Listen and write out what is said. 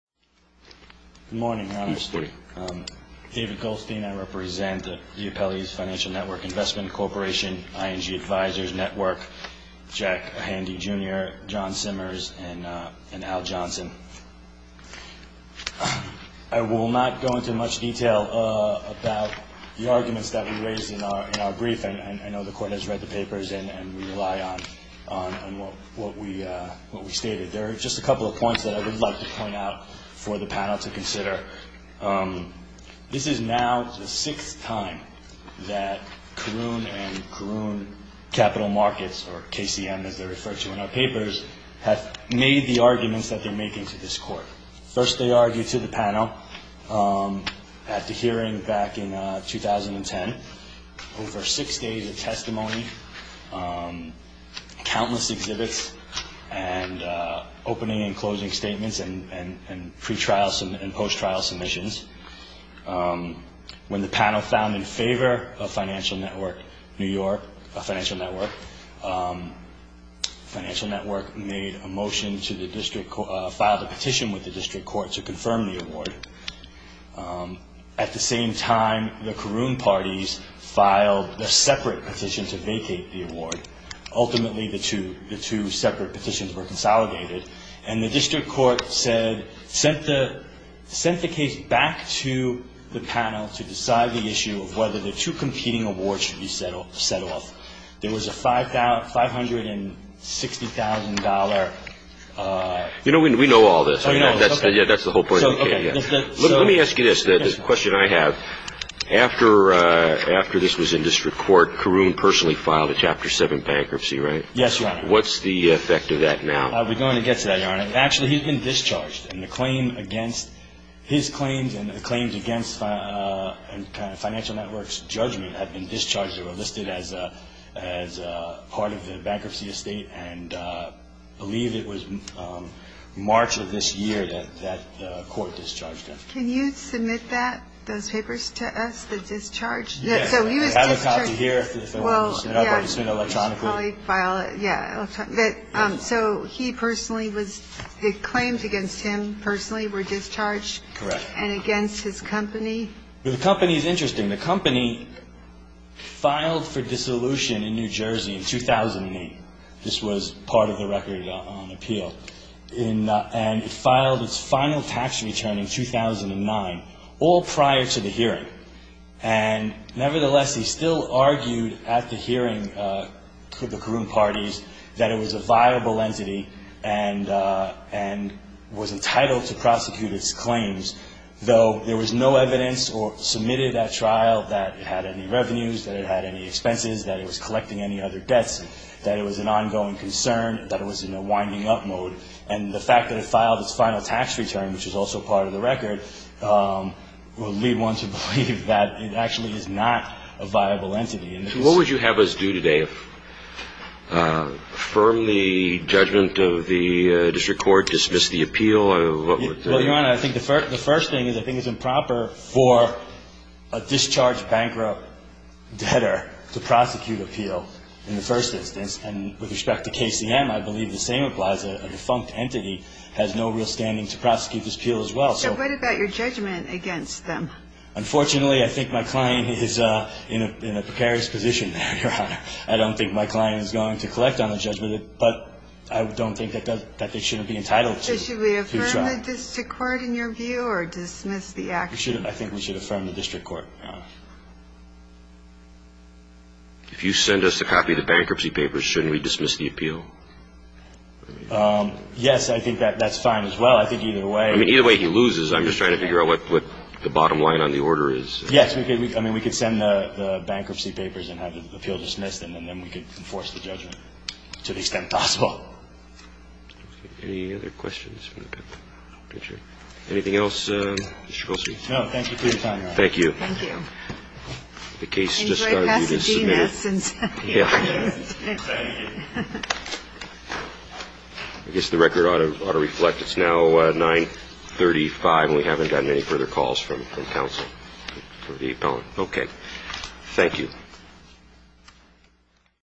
Good morning, Your Honor. Good morning. David Goldstein. I represent the Upellys Financial Network Investment Corporation, ING Advisors Network, Jack Handy, Jr., John Simmers, and Al Johnson. I will not go into much detail about the arguments that we raised in our brief, and I know the Court has read the papers and we rely on what we stated. There are just a couple of points that I would like to point out for the panel to consider. This is now the sixth time that Karoon and Karoon Capital Markets, or KCM as they're referred to in our papers, have made the arguments that they're making to this Court. First, they argued to the panel at the hearing back in 2010 over six days of testimony, countless exhibits and opening and closing statements and pre-trial and post-trial submissions. When the panel found in favor of Financial Network New York, Financial Network, Financial Network made a motion to the district court, filed a petition with the district court to confirm the award. At the same time, the Karoon parties filed a separate petition to vacate the award. Ultimately, the two separate petitions were consolidated, and the district court said, sent the case back to the panel to decide the issue of whether the two competing awards should be set off. There was a $560,000. You know, we know all this. That's the whole point of the case. Let me ask you this, the question I have. After this was in district court, Karoon personally filed a Chapter 7 bankruptcy, right? Yes, Your Honor. What's the effect of that now? We're going to get to that, Your Honor. Actually, he's been discharged, and the claim against his claims and the claims against Financial Network's judgment have been discharged. They were listed as part of the bankruptcy estate, and I believe it was March of this year that the court discharged him. Can you submit that, those papers to us, the discharge? Yes. So he was discharged. I have a copy here. Well, yeah. I've already sent it electronically. You should probably file it. Yeah. So he personally was, the claims against him personally were discharged? Correct. And against his company? The company is interesting. The company filed for dissolution in New Jersey in 2008. This was part of the record on appeal. And it filed its final tax return in 2009, all prior to the hearing. And nevertheless, he still argued at the hearing with the Karoon parties that it was a viable entity and was entitled to prosecute its claims, though there was no evidence or submitted at trial that it had any revenues, that it had any expenses, that it was collecting any other debts, that it was an ongoing concern, that it was in a winding-up mode. And the fact that it filed its final tax return, which is also part of the record, will lead one to believe that it actually is not a viable entity. So what would you have us do today? Affirm the judgment of the district court? Dismiss the appeal? Well, Your Honor, I think the first thing is I think it's improper for a discharged bankrupt debtor to prosecute appeal in the first instance. And with respect to KCM, I believe the same applies. A defunct entity has no real standing to prosecute this appeal as well. So what about your judgment against them? Unfortunately, I think my client is in a precarious position there, Your Honor. I don't think my client is going to collect on the judgment, but I don't think that they shouldn't be entitled to. So should we affirm the district court in your view or dismiss the action? I think we should affirm the district court. If you send us a copy of the bankruptcy papers, shouldn't we dismiss the appeal? Yes, I think that's fine as well. I think either way. I mean, either way he loses. I'm just trying to figure out what the bottom line on the order is. Yes. I mean, we could send the bankruptcy papers and have the appeal dismissed, and then we could enforce the judgment to the extent possible. Any other questions? Anything else, Mr. Goldstein? No. Thank you for your time, Your Honor. Thank you. Thank you. Enjoy Pasadena since you're here. Thank you. I guess the record ought to reflect. It's now 935, and we haven't gotten any further calls from counsel for the appellant. Okay. Thank you.